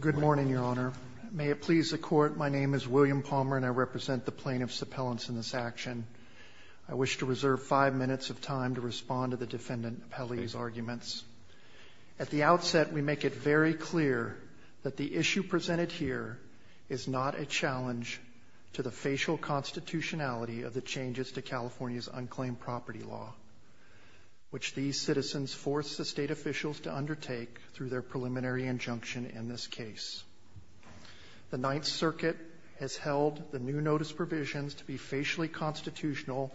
Good morning, Your Honor. May it please the Court, my name is William Palmer and I represent the plaintiff's appellants in this action. I wish to reserve five minutes of time to respond to the defendant's appellee's arguments. At the outset, we make it very clear that the issue presented here is not a challenge to the facial constitutionality of the changes to California's unclaimed property law, which these citizens force the state officials to undertake through their preliminary injunction in this case. The Ninth Circuit has held the new notice provisions to be facially constitutional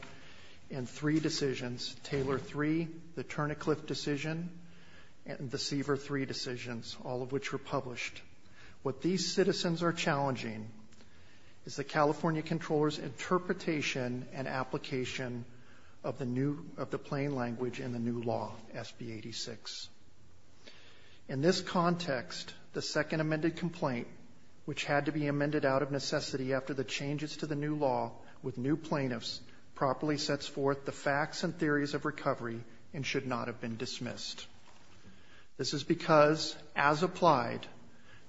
in three decisions, Taylor III, the Turner-Cliff decision, and the Siever III decisions, all of which were published. What these citizens are challenging is the California Comptroller's interpretation and application of the plain language in the new law, SB 86. In this context, the second amended complaint, which had to be amended out of necessity after the changes to the new law with new plaintiffs, properly sets forth the facts and theories of recovery and should not have been dismissed. This is because, as applied,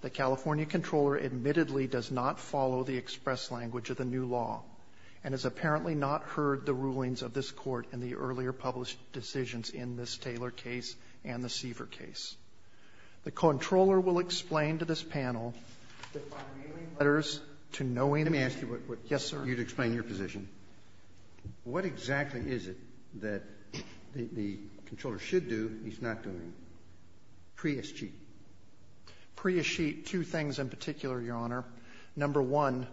the California Comptroller admittedly does not follow the express language of the new law and has apparently not heard the rulings of this Court in the earlier published decisions in this Taylor case and the Siever case. The Comptroller will explain to this panel that by mailing letters to knowing the new law to the California Comptroller, the California Comptroller will be able to explain why the California Comptroller is not doing it. Prius-Sheet. Prius-Sheet, two things in particular, Your Honor. Number one,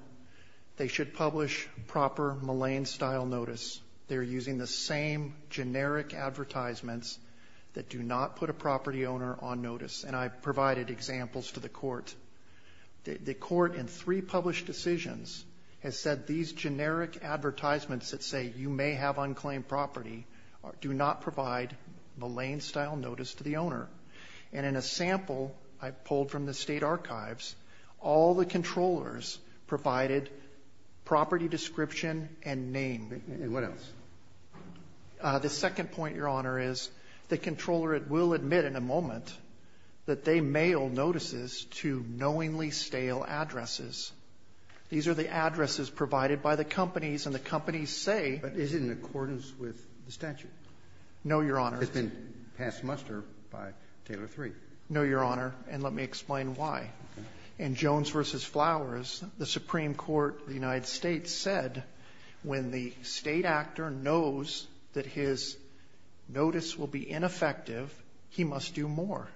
they should publish proper Millane-style notice. They're using the same generic advertisements that do not put a property owner on notice. And I provided examples to the Court. The Court in three published decisions has said these generic advertisements that say you may have unclaimed property do not provide Millane-style notice to the owner. And in a sample I pulled from the State Archives, all the Controllers provided property description and name. Roberts. And what else? The second point, Your Honor, is the Comptroller will admit in a moment that they mail notices to knowingly stale addresses. These are the addresses provided by the companies. And the companies say. But is it in accordance with the statute? No, Your Honor. It's been passed muster by Taylor III. No, Your Honor. And let me explain why. In Jones v. Flowers, the Supreme Court of the United States said when the State actor knows that his notice will be ineffective, he must do more.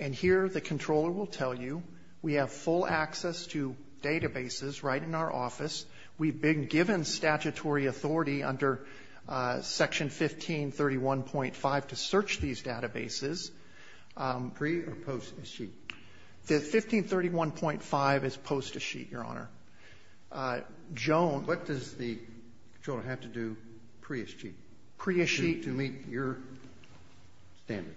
And here the Comptroller will tell you, we have full access to databases right in our office. We've been given statutory authority under Section 1531.5 to search these databases. Pre or post a sheet? The 1531.5 is post a sheet, Your Honor. Jones. What does the Comptroller have to do pre a sheet? Pre a sheet. To meet your standard.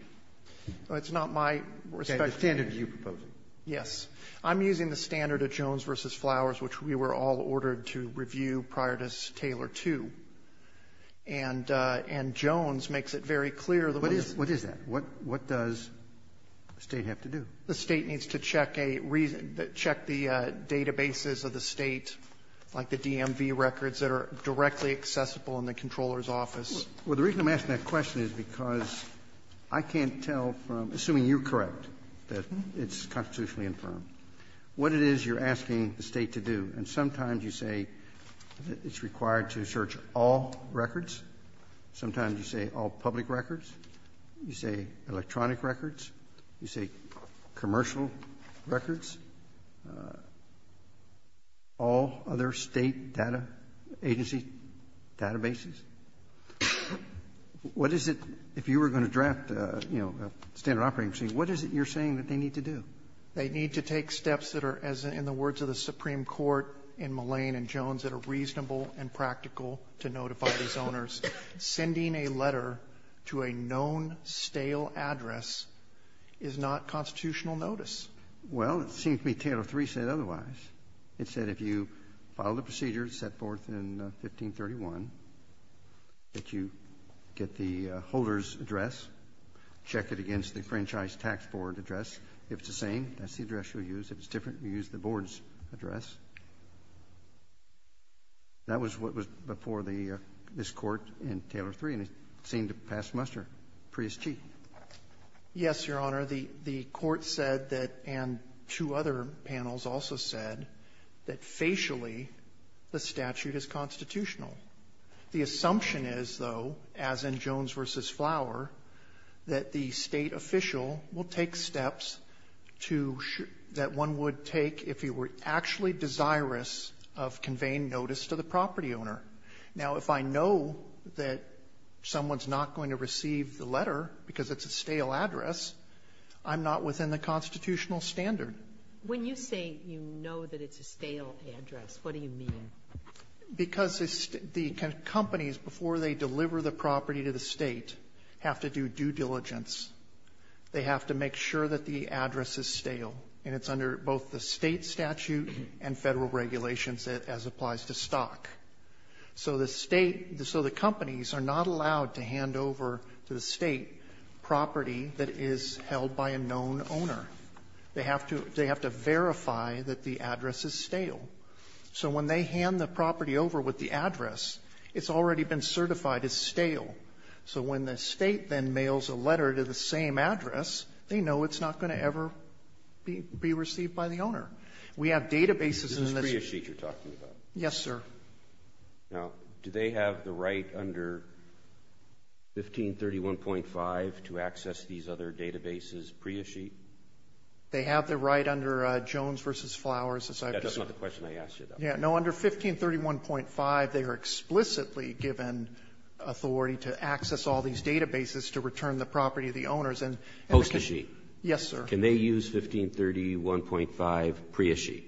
It's not my respect. The standard you propose. Yes. I'm using the standard of Jones v. Flowers, which we were all ordered to review prior to Taylor II. And Jones makes it very clear. What is that? What does the State have to do? The State needs to check the databases of the State, like the DMV records, that are directly accessible in the Comptroller's office. Well, the reason I'm asking that question is because I can't tell from, assuming you're correct, that it's constitutionally infirmed. What it is you're asking the State to do, and sometimes you say it's required to search all records, sometimes you say all public records, you say electronic records, you say commercial records, all other State data agency databases. What is it, if you were going to draft, you know, a standard operating procedure, what is it you're saying that they need to do? They need to take steps that are, as in the words of the Supreme Court in Mullane and Jones, that are reasonable and practical to notify these owners. Sending a letter to a known stale address is not constitutional notice. Well, it seems to me Taylor III said otherwise. It said if you follow the procedures set forth in 1531, that you get the holder's address, check it against the franchise tax board address. If it's the same, that's the address you'll use. If it's different, you use the board's address. That was what was before this Court in Taylor III, and it seemed to pass muster. Prius G. Yes, Your Honor. The Court said that, and two other panels also said, that facially the statute is constitutional. The assumption is, though, as in Jones v. Flower, that the State official will take steps to, that one would take if he were actually desirous of conveying notice to the property owner. Now, if I know that someone's not going to receive the letter because it's a stale address, I'm not within the constitutional standard. When you say you know that it's a stale address, what do you mean? Because the companies, before they deliver the property to the State, have to do due diligence. They have to make sure that the address is stale, and it's under both the State statute and Federal regulations as applies to stock. So the State, so the companies are not allowed to hand over to the State property that is held by a known owner. They have to verify that the address is stale. So when they hand the property over with the address, it's already been certified as stale. So when the State then mails a letter to the same address, they know it's not going to ever be received by the owner. We have databases in the State. This is Prius G you're talking about. Yes, sir. Now, do they have the right under 1531.5 to access these other databases, Prius G? They have the right under Jones v. Flowers. That's not the question I asked you, though. Yeah, no, under 1531.5, they are explicitly given authority to access all these databases to return the property to the owners. Post a sheet. Yes, sir. Can they use 1531.5 Prius G?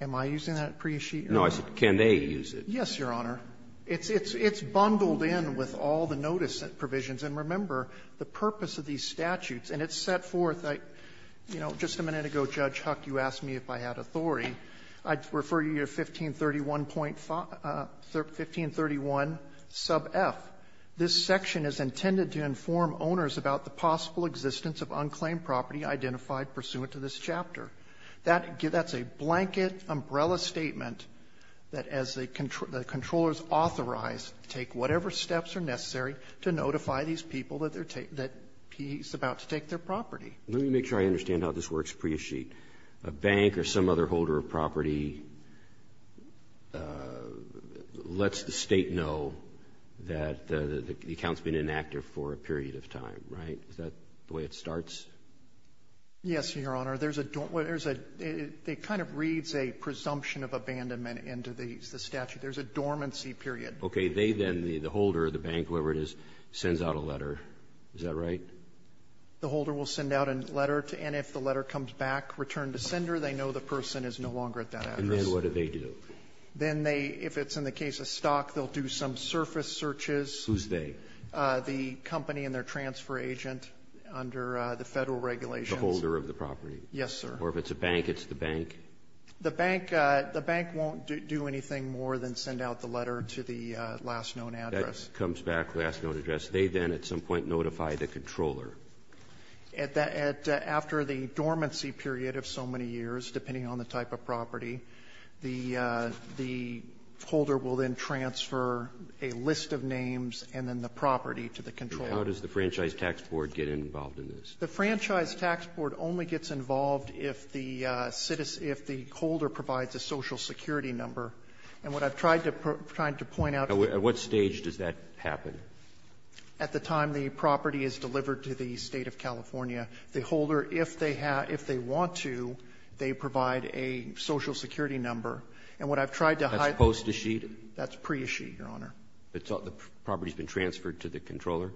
Am I using that Prius G? No, I said can they use it? Yes, Your Honor. It's bundled in with all the notice provisions. And remember, the purpose of these statutes, and it's set forth, you know, just a minute ago, Judge Huck, you asked me if I had authority. I refer you to 1531.5, 1531 sub F. This section is intended to inform owners about the possible existence of unclaimed property identified pursuant to this chapter. That's a blanket umbrella statement that as the controllers authorize, take whatever steps are necessary to notify these people that he's about to take their property. Let me make sure I understand how this works, Prius G. A bank or some other holder of property lets the State know that the account's been inactive for a period of time, right? Is that the way it starts? Yes, Your Honor. There's a dormant, there's a, it kind of reads a presumption of abandonment into the statute. There's a dormancy period. Okay. They then, the holder, the bank, whatever it is, sends out a letter. Is that right? The holder will send out a letter to, and if the letter comes back, return to sender, they know the person is no longer at that address. And then what do they do? Then they, if it's in the case of stock, they'll do some surface searches. Who's they? The company and their transfer agent under the Federal regulations. The holder of the property. Yes, sir. Or if it's a bank, it's the bank? The bank, the bank won't do anything more than send out the letter to the last known address. That comes back, last known address. They then at some point notify the controller. At that, at, after the dormancy period of so many years, depending on the type of property, the, the holder will then transfer a list of names and then the property to the controller. How does the Franchise Tax Board get involved in this? The Franchise Tax Board only gets involved if the citizen, if the holder provides a social security number. And what I've tried to, tried to point out to you. At what stage does that happen? At the time the property is delivered to the State of California, the holder, if they have, if they want to, they provide a social security number. And what I've tried to highlight. That's post a sheet? That's pre-sheet, Your Honor. The property's been transferred to the controller?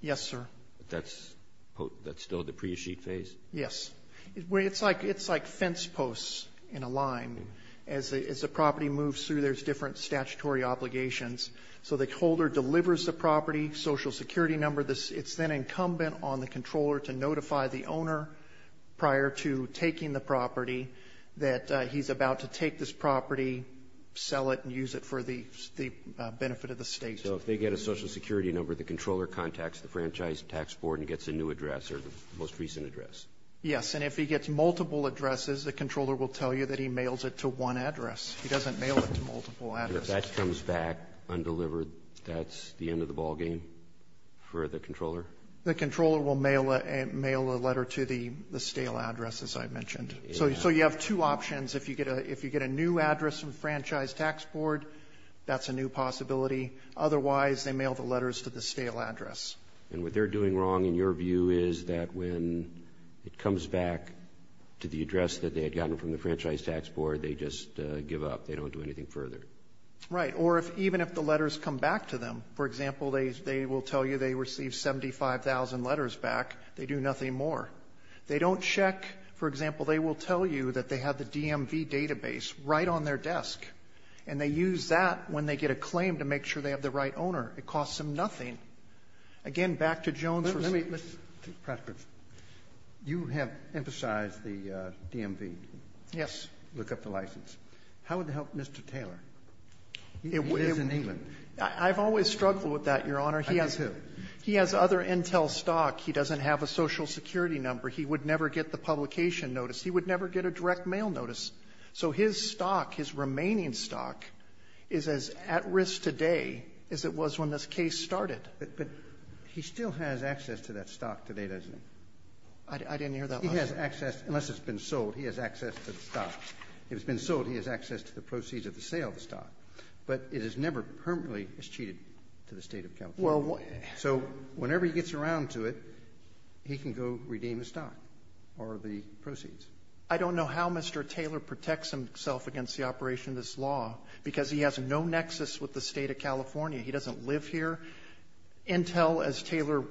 Yes, sir. That's, that's still the pre-sheet phase? Yes. It's like, it's like fence posts in a line. As the, as the property moves through, there's different statutory obligations. So the holder delivers the property, social security number. This, it's then incumbent on the controller to notify the owner prior to taking the property that he's about to take this property, sell it, and use it for the, the benefit of the state. Okay. So if they get a social security number, the controller contacts the Franchise Tax Board and gets a new address or the most recent address? Yes. And if he gets multiple addresses, the controller will tell you that he mails it to one address. He doesn't mail it to multiple addresses. If that comes back undelivered, that's the end of the ballgame for the controller? The controller will mail a, mail a letter to the, the stale address, as I mentioned. So, so you have two options. If you get a, if you get a new address from Franchise Tax Board, that's a new possibility. Otherwise, they mail the letters to the stale address. And what they're doing wrong, in your view, is that when it comes back to the address that they had gotten from the Franchise Tax Board, they just give up. They don't do anything further. Right. Or if, even if the letters come back to them, for example, they, they will tell you they received 75,000 letters back. They do nothing more. They don't check, for example, they will tell you that they have the DMV database right on their desk. And they use that when they get a claim to make sure they have the right owner. It costs them nothing. Again, back to Jones. Let me, let's, Patrick, you have emphasized the DMV. Yes. Look up the license. How would that help Mr. Taylor? He is in England. I've always struggled with that, Your Honor. I do, too. He has other intel stock. He doesn't have a social security number. He would never get the publication notice. He would never get a direct mail notice. So his stock, his remaining stock, is as at risk today as it was when this case started. But he still has access to that stock today, doesn't he? I didn't hear that last time. He has access, unless it's been sold, he has access to the stock. If it's been sold, he has access to the proceeds of the sale of the stock. But it is never permanently, it's cheated to the State of California. So whenever he gets around to it, he can go redeem the stock or the proceeds. I don't know how Mr. Taylor protects himself against the operation of this law, because he has no nexus with the State of California. He doesn't live here. Intel,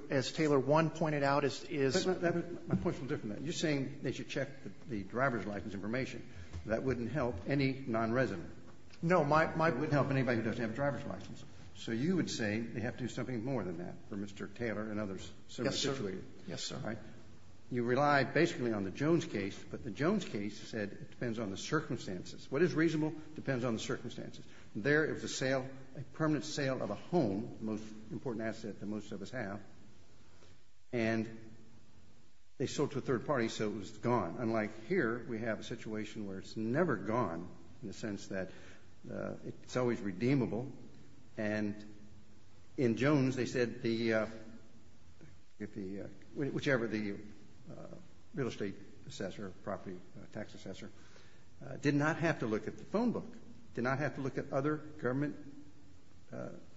as Taylor 1 pointed out, is ---- My point is a little different than that. You're saying they should check the driver's license information. That wouldn't help any nonresident. No. It wouldn't help anybody who doesn't have a driver's license. So you would say they have to do something more than that for Mr. Taylor and others so situated. Yes, sir. Yes, sir. You rely basically on the Jones case. But the Jones case said it depends on the circumstances. What is reasonable depends on the circumstances. There is a sale, a permanent sale of a home, the most important asset that most of us have. And they sold to a third party, so it was gone. Unlike here, we have a situation where it's never gone in the sense that it's always redeemable. And in Jones, they said whichever the real estate assessor or property tax assessor did not have to look at the phone book, did not have to look at other government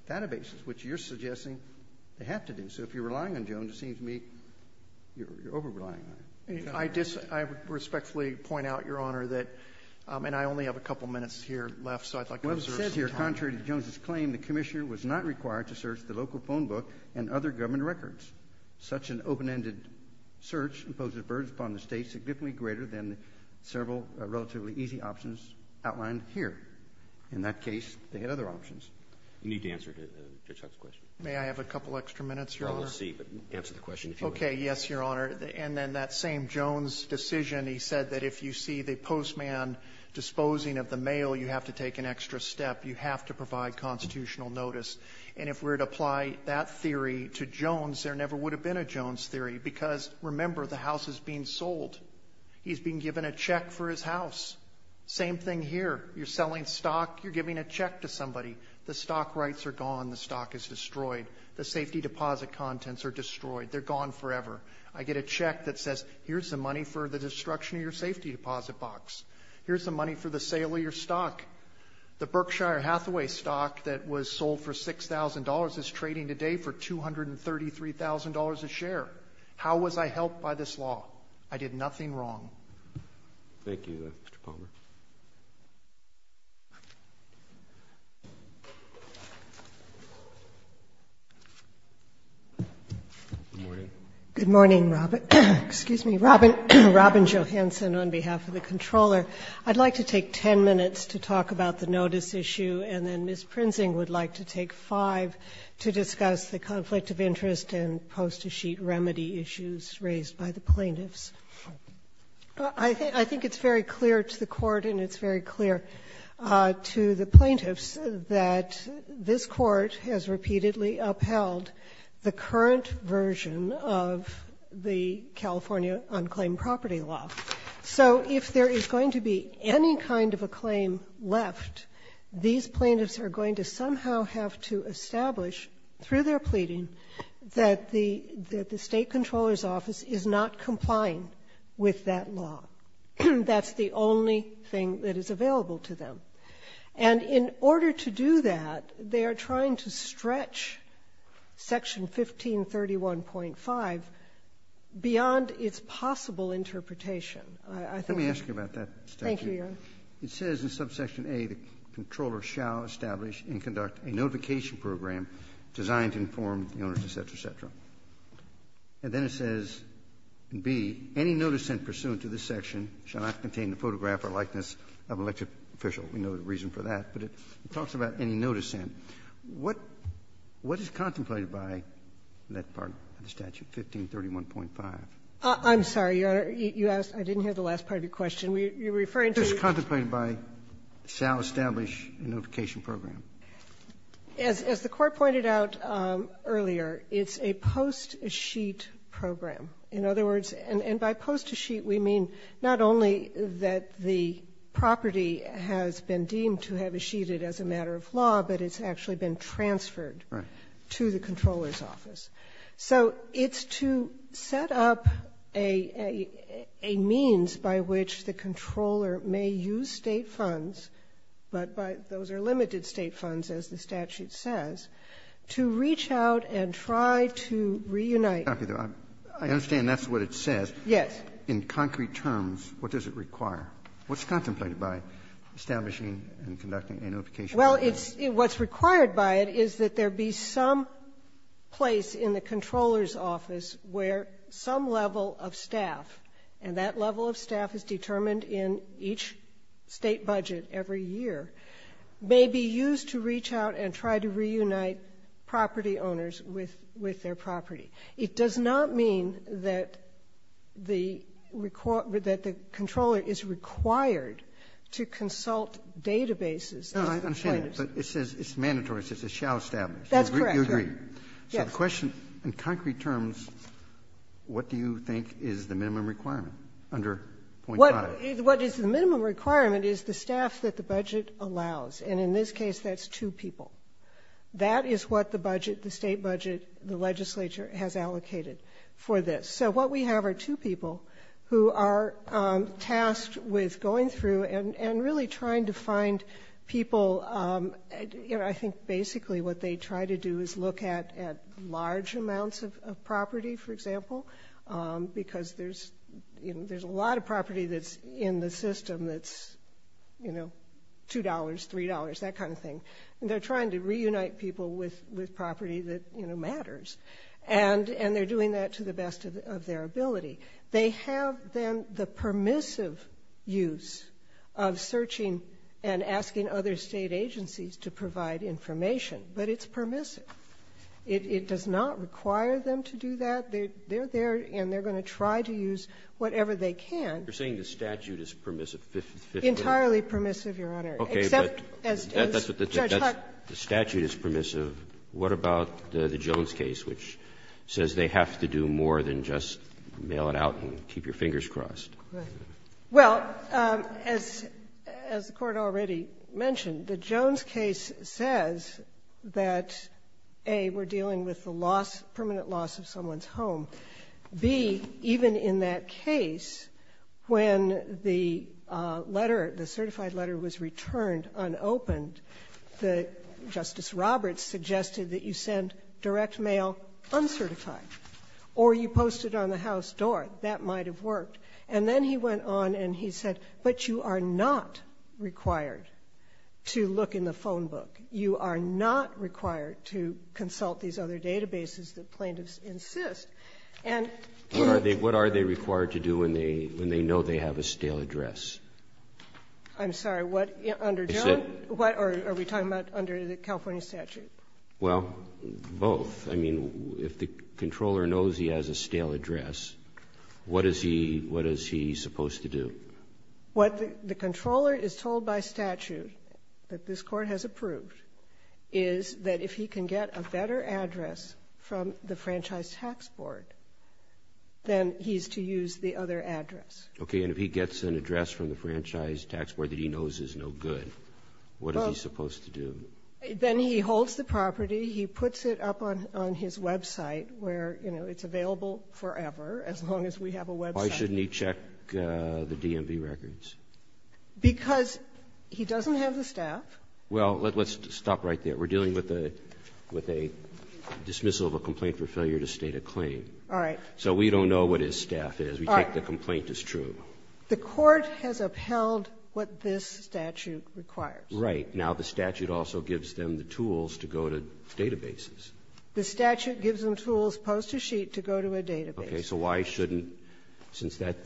databases, which you're suggesting they have to do. So if you're relying on Jones, it seems to me you're over-relying on it. I respectfully point out, Your Honor, that ---- And I only have a couple minutes here left, so I'd like to reserve some time. Contrary to Jones's claim, the commissioner was not required to search the local phone book and other government records. Such an open-ended search imposes burdens upon the state significantly greater than several relatively easy options outlined here. In that case, they had other options. You need to answer Judge Hart's question. May I have a couple extra minutes, Your Honor? We'll see, but answer the question if you would. Okay, yes, Your Honor. And then that same Jones decision, he said that if you see the postman disposing of the mail, you have to take an extra step. You have to provide constitutional notice. And if we were to apply that theory to Jones, there never would have been a Jones theory because, remember, the house is being sold. He's being given a check for his house. Same thing here. You're selling stock. You're giving a check to somebody. The stock rights are gone. The stock is destroyed. The safety deposit contents are destroyed. They're gone forever. I get a check that says, Here's the money for the destruction of your safety deposit box. Here's the money for the sale of your stock. The Berkshire Hathaway stock that was sold for $6,000 is trading today for $233,000 a share. How was I helped by this law? I did nothing wrong. Thank you, Mr. Palmer. Good morning. Excuse me. Robin Johansen on behalf of the Comptroller. I'd like to take 10 minutes to talk about the notice issue, and then Ms. Prinzing would like to take 5 to discuss the conflict of interest and post-sheet remedy issues raised by the plaintiffs. I think it's very clear to the Court and it's very clear to the plaintiffs that this Court has repeatedly upheld the current version of the California unclaimed property law. So if there is going to be any kind of a claim left, these plaintiffs are going to somehow have to establish through their pleading that the State Comptroller's office is not complying with that law. That's the only thing that is available to them. And in order to do that, they are trying to stretch Section 1531.5 beyond its possible interpretation. I think that's the case. Let me ask you about that. Thank you, Your Honor. It says in subsection A, the Comptroller shall establish and conduct a notification program designed to inform the owners, et cetera, et cetera. And then it says in B, any notice sent pursuant to this section shall not contain a photograph or likeness of an elected official. We know the reason for that. But it talks about any notice sent. What is contemplated by that part of the statute, 1531.5? I'm sorry, Your Honor. You asked me. I didn't hear the last part of your question. You're referring to the ---- What is contemplated by shall establish a notification program? As the Court pointed out earlier, it's a post-sheet program. In other words, and by post-sheet we mean not only that the property has been deemed to have a sheet as a matter of law, but it's actually been transferred to the Comptroller's office. So it's to set up a means by which the Comptroller may use State funds, but those are limited State funds, as the statute says, to reach out and try to reunite I understand that's what it says. Yes. In concrete terms, what does it require? What's contemplated by establishing and conducting a notification program? Well, what's required by it is that there be some place in the Comptroller's office where some level of staff, and that level of staff is determined in each State budget every year, may be used to reach out and try to reunite property owners with their property. It does not mean that the Comptroller is required to consult databases. No, I understand that. But it says it's mandatory. It says it shall establish. That's correct. You agree. Yes. So the question in concrete terms, what do you think is the minimum requirement under .5? What is the minimum requirement is the staff that the budget allows. And in this case, that's two people. That is what the budget, the State budget, the legislature has allocated for this. So what we have are two people who are tasked with going through and really trying to find people. I think basically what they try to do is look at large amounts of property, for example, because there's a lot of property that's in the system that's $2, $3, that kind of thing. And they're trying to reunite people with property that matters. And they're doing that to the best of their ability. They have then the permissive use of searching and asking other State agencies to provide information. But it's permissive. It does not require them to do that. They're there, and they're going to try to use whatever they can. You're saying the statute is permissive? Entirely permissive, Your Honor. Okay. But the statute is permissive. What about the Jones case, which says they have to do more than just mail it out and keep your fingers crossed? Well, as the Court already mentioned, the Jones case says that, A, we're dealing with the loss, permanent loss of someone's home. B, even in that case, when the letter, the certified letter was returned unopened, Justice Roberts suggested that you send direct mail uncertified, or you post it on the House door. That might have worked. And then he went on and he said, but you are not required to look in the phone book. You are not required to consult these other databases that plaintiffs insist. What are they required to do when they know they have a stale address? I'm sorry. Under Jones? Are we talking about under the California statute? Well, both. I mean, if the controller knows he has a stale address, what is he supposed to do? What the controller is told by statute, that this Court has approved, is that if he can get a better address from the Franchise Tax Board, then he's to use the other address. Okay. And if he gets an address from the Franchise Tax Board that he knows is no good, what is he supposed to do? Then he holds the property. He puts it up on his website where, you know, it's available forever, as long as we have a website. Why shouldn't he check the DMV records? Because he doesn't have the staff. Well, let's stop right there. We're dealing with a dismissal of a complaint for failure to state a claim. All right. So we don't know what his staff is. We take the complaint as true. The Court has upheld what this statute requires. Right. Now the statute also gives them the tools to go to databases. The statute gives them tools post a sheet to go to a database. Okay. So why shouldn't, since that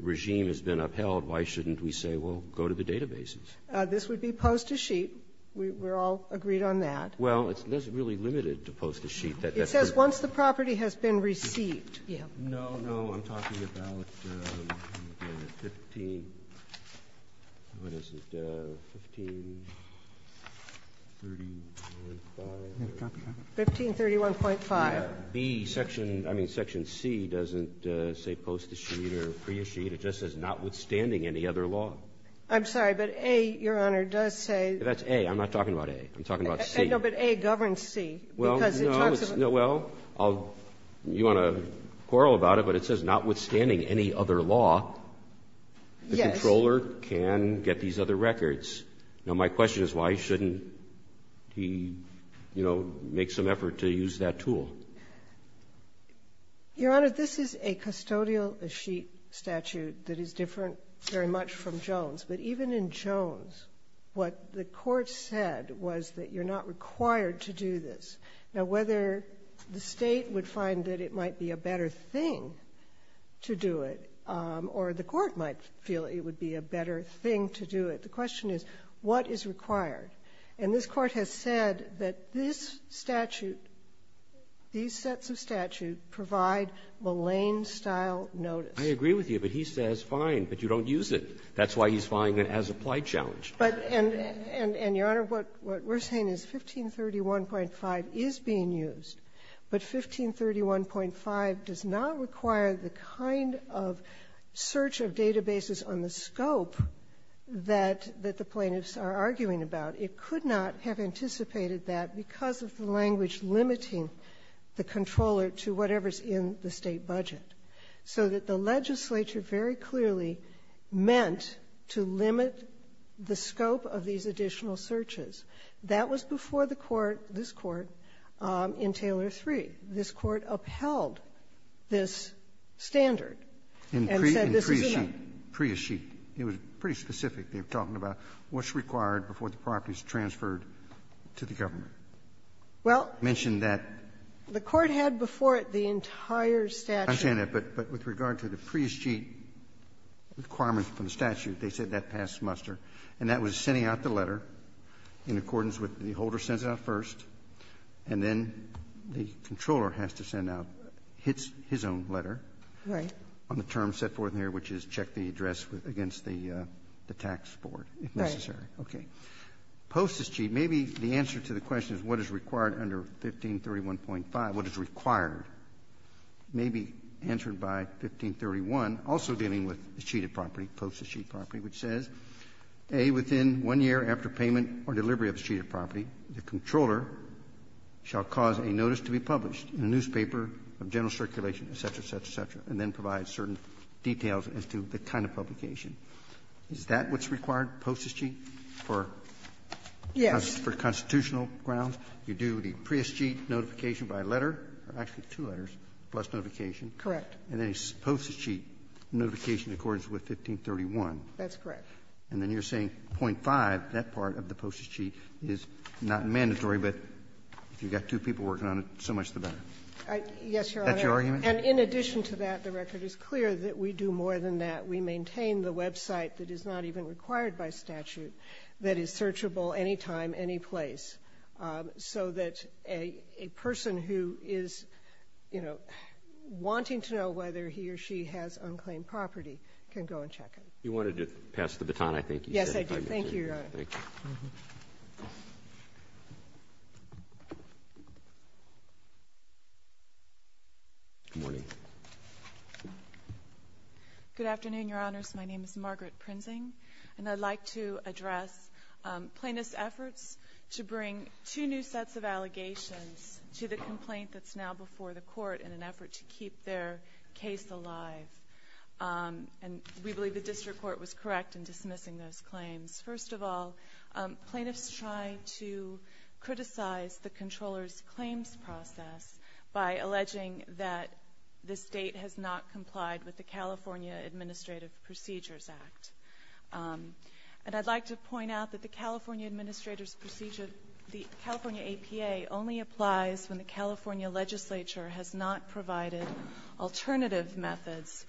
regime has been upheld, why shouldn't we say, well, go to the databases? This would be post a sheet. We're all agreed on that. Well, there's really limited to post a sheet. It says once the property has been received. No, no. I'm talking about 15, what is it, 1531.5. 1531.5. Section C doesn't say post a sheet or free a sheet. It just says notwithstanding any other law. I'm sorry, but A, Your Honor, does say. That's A. I'm not talking about A. I'm talking about C. No, but A governs C. Because it talks about. Well, you want to quarrel about it, but it says notwithstanding any other law. Yes. The controller can get these other records. Now, my question is why shouldn't he, you know, make some effort to use that tool? Your Honor, this is a custodial sheet statute that is different very much from Jones. But even in Jones, what the Court said was that you're not required to do this. Now, whether the State would find that it might be a better thing to do it or the required. And this Court has said that this statute, these sets of statute, provide Malayne-style notice. I agree with you, but he says, fine, but you don't use it. That's why he's filing an as-applied challenge. But, and, Your Honor, what we're saying is 1531.5 is being used. But 1531.5 does not require the kind of search of databases on the scope that the plaintiffs are arguing about. It could not have anticipated that because of the language limiting the controller to whatever's in the State budget. So that the legislature very clearly meant to limit the scope of these additional searches. That was before the Court, this Court, in Taylor III. This Court upheld this standard and said this is enough. And in the Prius sheet, it was pretty specific. They were talking about what's required before the property is transferred to the government. Well, the Court had before it the entire statute. I understand that, but with regard to the Prius sheet requirements from the statute, they said that passed muster. And that was sending out the letter in accordance with the holder sends it out first, and then the controller has to send out his own letter on the term set forth in here, which is check the address against the tax board, if necessary. Okay. Post this sheet, maybe the answer to the question is what is required under 1531.5. What is required may be answered by 1531, also dealing with the sheeted property, post the sheeted property, which says, A, within one year after payment or delivery of the sheeted property, the controller shall cause a notice to be published in a newspaper of general circulation, et cetera, et cetera, et cetera, and then provide certain details as to the kind of publication. Is that what's required, post this sheet, for constitutional grounds? You do the Prius sheet notification by letter, or actually two letters, plus notification. Correct. And then he posts his sheet notification in accordance with 1531. That's correct. And then you're saying 0.5, that part of the postage sheet is not mandatory, but if you've got two people working on it, so much the better. Yes, Your Honor. Is that your argument? And in addition to that, the record is clear that we do more than that. We maintain the website that is not even required by statute, that is searchable any time, any place, so that a person who is wanting to know whether he or she has unclaimed property can go and check it. You wanted to pass the baton, I think. Yes, I do. Thank you, Your Honor. Thank you. Mm-hmm. Good morning. Good afternoon, Your Honors. My name is Margaret Prinzing, and I'd like to address plaintiff's efforts to bring two new sets of allegations to the complaint that's now before the court in an effort to keep their case alive. And we believe the district court was correct in dismissing those claims. First of all, plaintiffs tried to criticize the controller's claims process by alleging that the state has not complied with the California Administrative Procedures Act. And I'd like to point out that the California APA only applies when the California legislature has not provided alternative methods,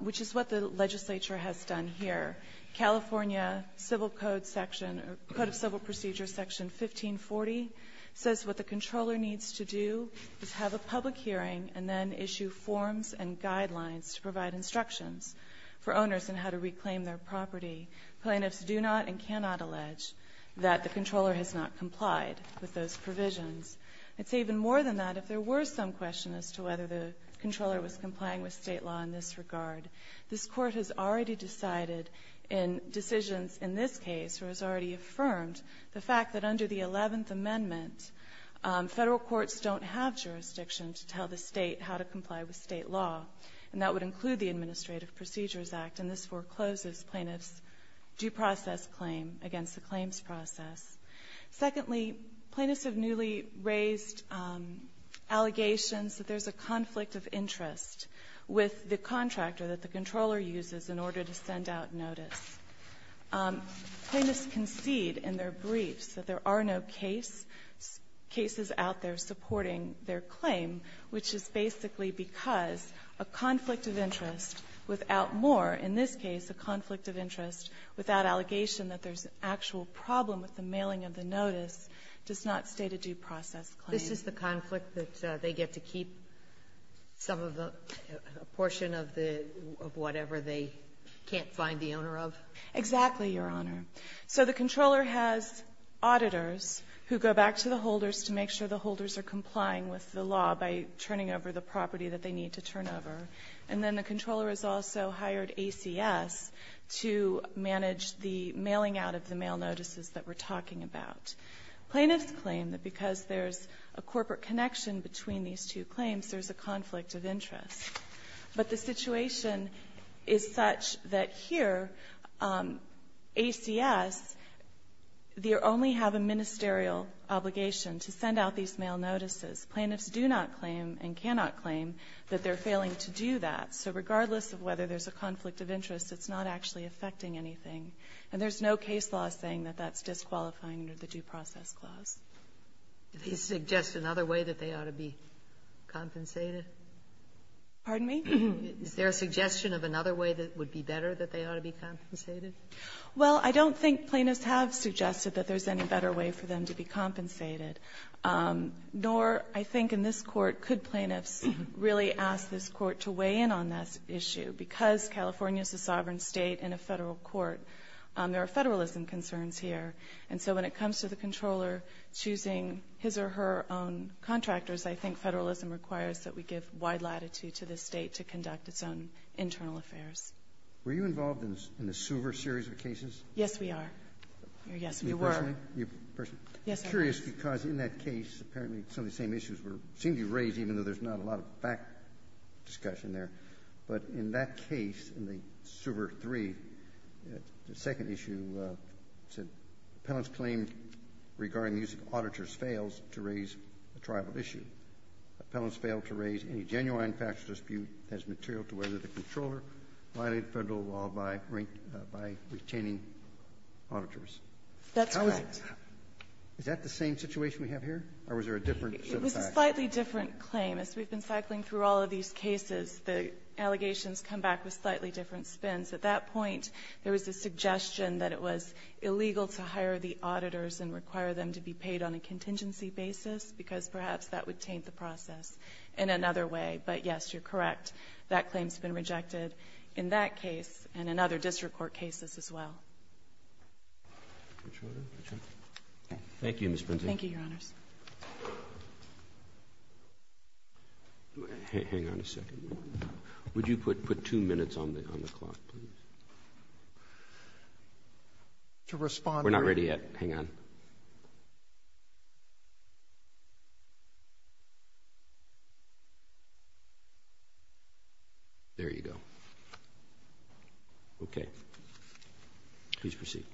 which is what the legislature has done here. California Code of Civil Procedures Section 1540 says what the controller needs to do is have a public hearing and then issue forms and guidelines to provide instructions for owners on how to reclaim their property. Plaintiffs do not and cannot allege that the controller has not complied with those provisions. I'd say even more than that, if there were some question as to whether the controller was complying with state law in this regard, this court has already decided in decisions in this case, or has already affirmed the fact that under the 11th Amendment, federal courts don't have jurisdiction to tell the state how to comply with state law, and that would include the Administrative Procedures Act. And this forecloses plaintiffs' due process claim against the claims process. Secondly, plaintiffs have newly raised allegations that there's a conflict of interest with the contractor that the controller uses in order to send out notice. Plaintiffs concede in their briefs that there are no cases out there supporting their claim, which is basically because a conflict of interest without more, in this case, a conflict of interest without allegation that there's an actual problem with the mailing of the notice does not state a due process claim. Sotomayor, this is the conflict that they get to keep some of the portion of the, of whatever they can't find the owner of? Exactly, Your Honor. So the controller has auditors who go back to the holders to make sure the holders are complying with the law by turning over the property that they need to turn over. And then the controller is also hired ACS to manage the mailing out of the mail notices that we're talking about. Plaintiffs claim that because there's a corporate connection between these two claims, there's a conflict of interest. But the situation is such that here, ACS, they only have a ministerial obligation to send out these mail notices. Plaintiffs do not claim, and cannot claim, that they're failing to do that. So regardless of whether there's a conflict of interest, it's not actually affecting anything. And there's no case law saying that that's disqualifying under the due process clause. Do they suggest another way that they ought to be compensated? Pardon me? Is there a suggestion of another way that would be better, that they ought to be compensated? Well, I don't think plaintiffs have suggested that there's any better way for them to be compensated. Nor, I think, in this Court, could plaintiffs really ask this Court to weigh in on that issue. Because California is a sovereign state and a federal court, there are federalism concerns here. And so when it comes to the Comptroller choosing his or her own contractors, I think federalism requires that we give wide latitude to the state to conduct its own internal affairs. Were you involved in the Suver series of cases? Yes, we are. Yes, we were. You personally? Yes, I was. I'm curious, because in that case, apparently some of the same issues seemed to be raised, even though there's not a lot of back discussion there. But in that case, in the Suver III, the second issue said, Appellant's claim regarding the use of auditors fails to raise a tribal issue. Appellants fail to raise any genuine factual dispute as material to whether the Comptroller violated federal law by retaining auditors. That's correct. Is that the same situation we have here, or was there a different set of facts? It was a slightly different claim. As we've been cycling through all of these cases, the allegations come back with slightly different spins. At that point, there was a suggestion that it was illegal to hire the auditors and require them to be paid on a contingency basis, because perhaps that would taint the process in another way. But yes, you're correct. That claim's been rejected in that case and in other district court cases as well. Thank you, Ms. Prentice. Thank you, Your Honors. Hang on a second. Would you put two minutes on the clock, please? We're not ready yet. Hang on. There you go. Okay. Please proceed.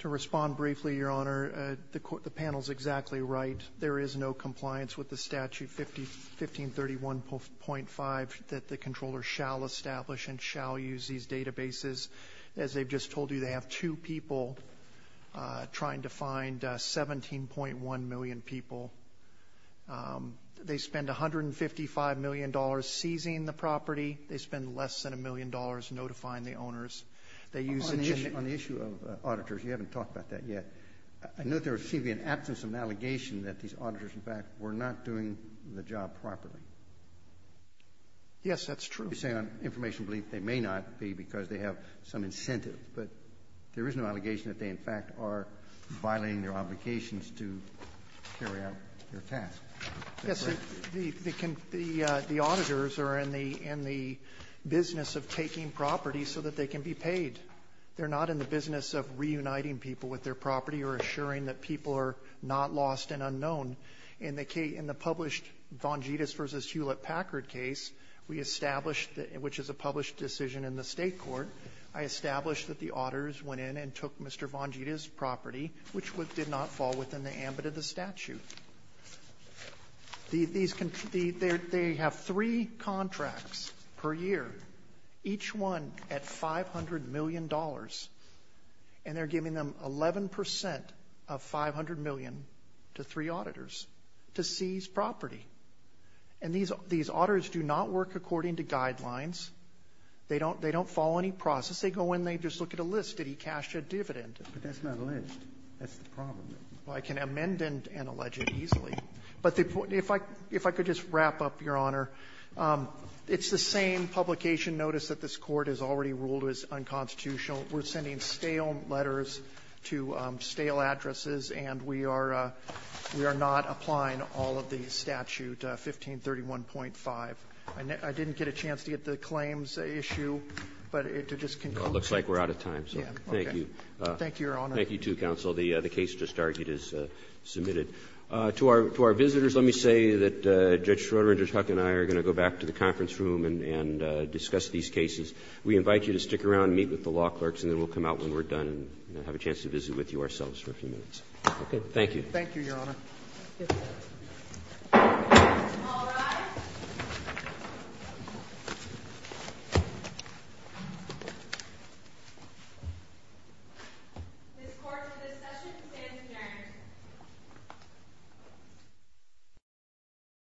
To respond briefly, Your Honor, the panel's exactly right. And there is no compliance with the statute, 1531.5, that the controller shall establish and shall use these databases. As they've just told you, they have two people trying to find 17.1 million people. They spend $155 million seizing the property. They spend less than a million dollars notifying the owners. They use a given On the issue of auditors, you haven't talked about that yet. I know there seems to be an absence of an allegation that these auditors, in fact, were not doing the job properly. Yes, that's true. You're saying on information relief they may not be because they have some incentive. But there is no allegation that they, in fact, are violating their obligations to carry out their task. Is that correct? Yes. The auditors are in the business of taking property so that they can be paid. They're not in the business of reuniting people with their property or assuring that people are not lost and unknown. In the published Vongides v. Hewlett-Packard case, we established, which is a published decision in the State court, I established that the auditors went in and took Mr. Vongides' property, which did not fall within the ambit of the statute. They have three contracts per year, each one at $500 million, and they're giving them 11 percent of $500 million to three auditors to seize property. And these auditors do not work according to guidelines. They don't follow any process. They go in and they just look at a list. Did he cash a dividend? But that's not a list. That's the problem. Well, I can amend and allege it easily. But if I could just wrap up, Your Honor. It's the same publication notice that this Court has already ruled was unconstitutional. We're sending stale letters to stale addresses, and we are not applying all of the statute, 1531.5. I didn't get a chance to get the claims issue, but to just conclude. Well, it looks like we're out of time, so thank you. Thank you, Your Honor. Thank you, too, counsel. The case just argued is submitted. To our visitors, let me say that Judge Schroeder and Judge Huck and I are going to go back to the conference room and discuss these cases. We invite you to stick around and meet with the law clerks, and then we'll come out when we're done and have a chance to visit with you ourselves for a few minutes. Okay. Thank you, Your Honor. Thank you. All rise. This court for this session stands adjourned.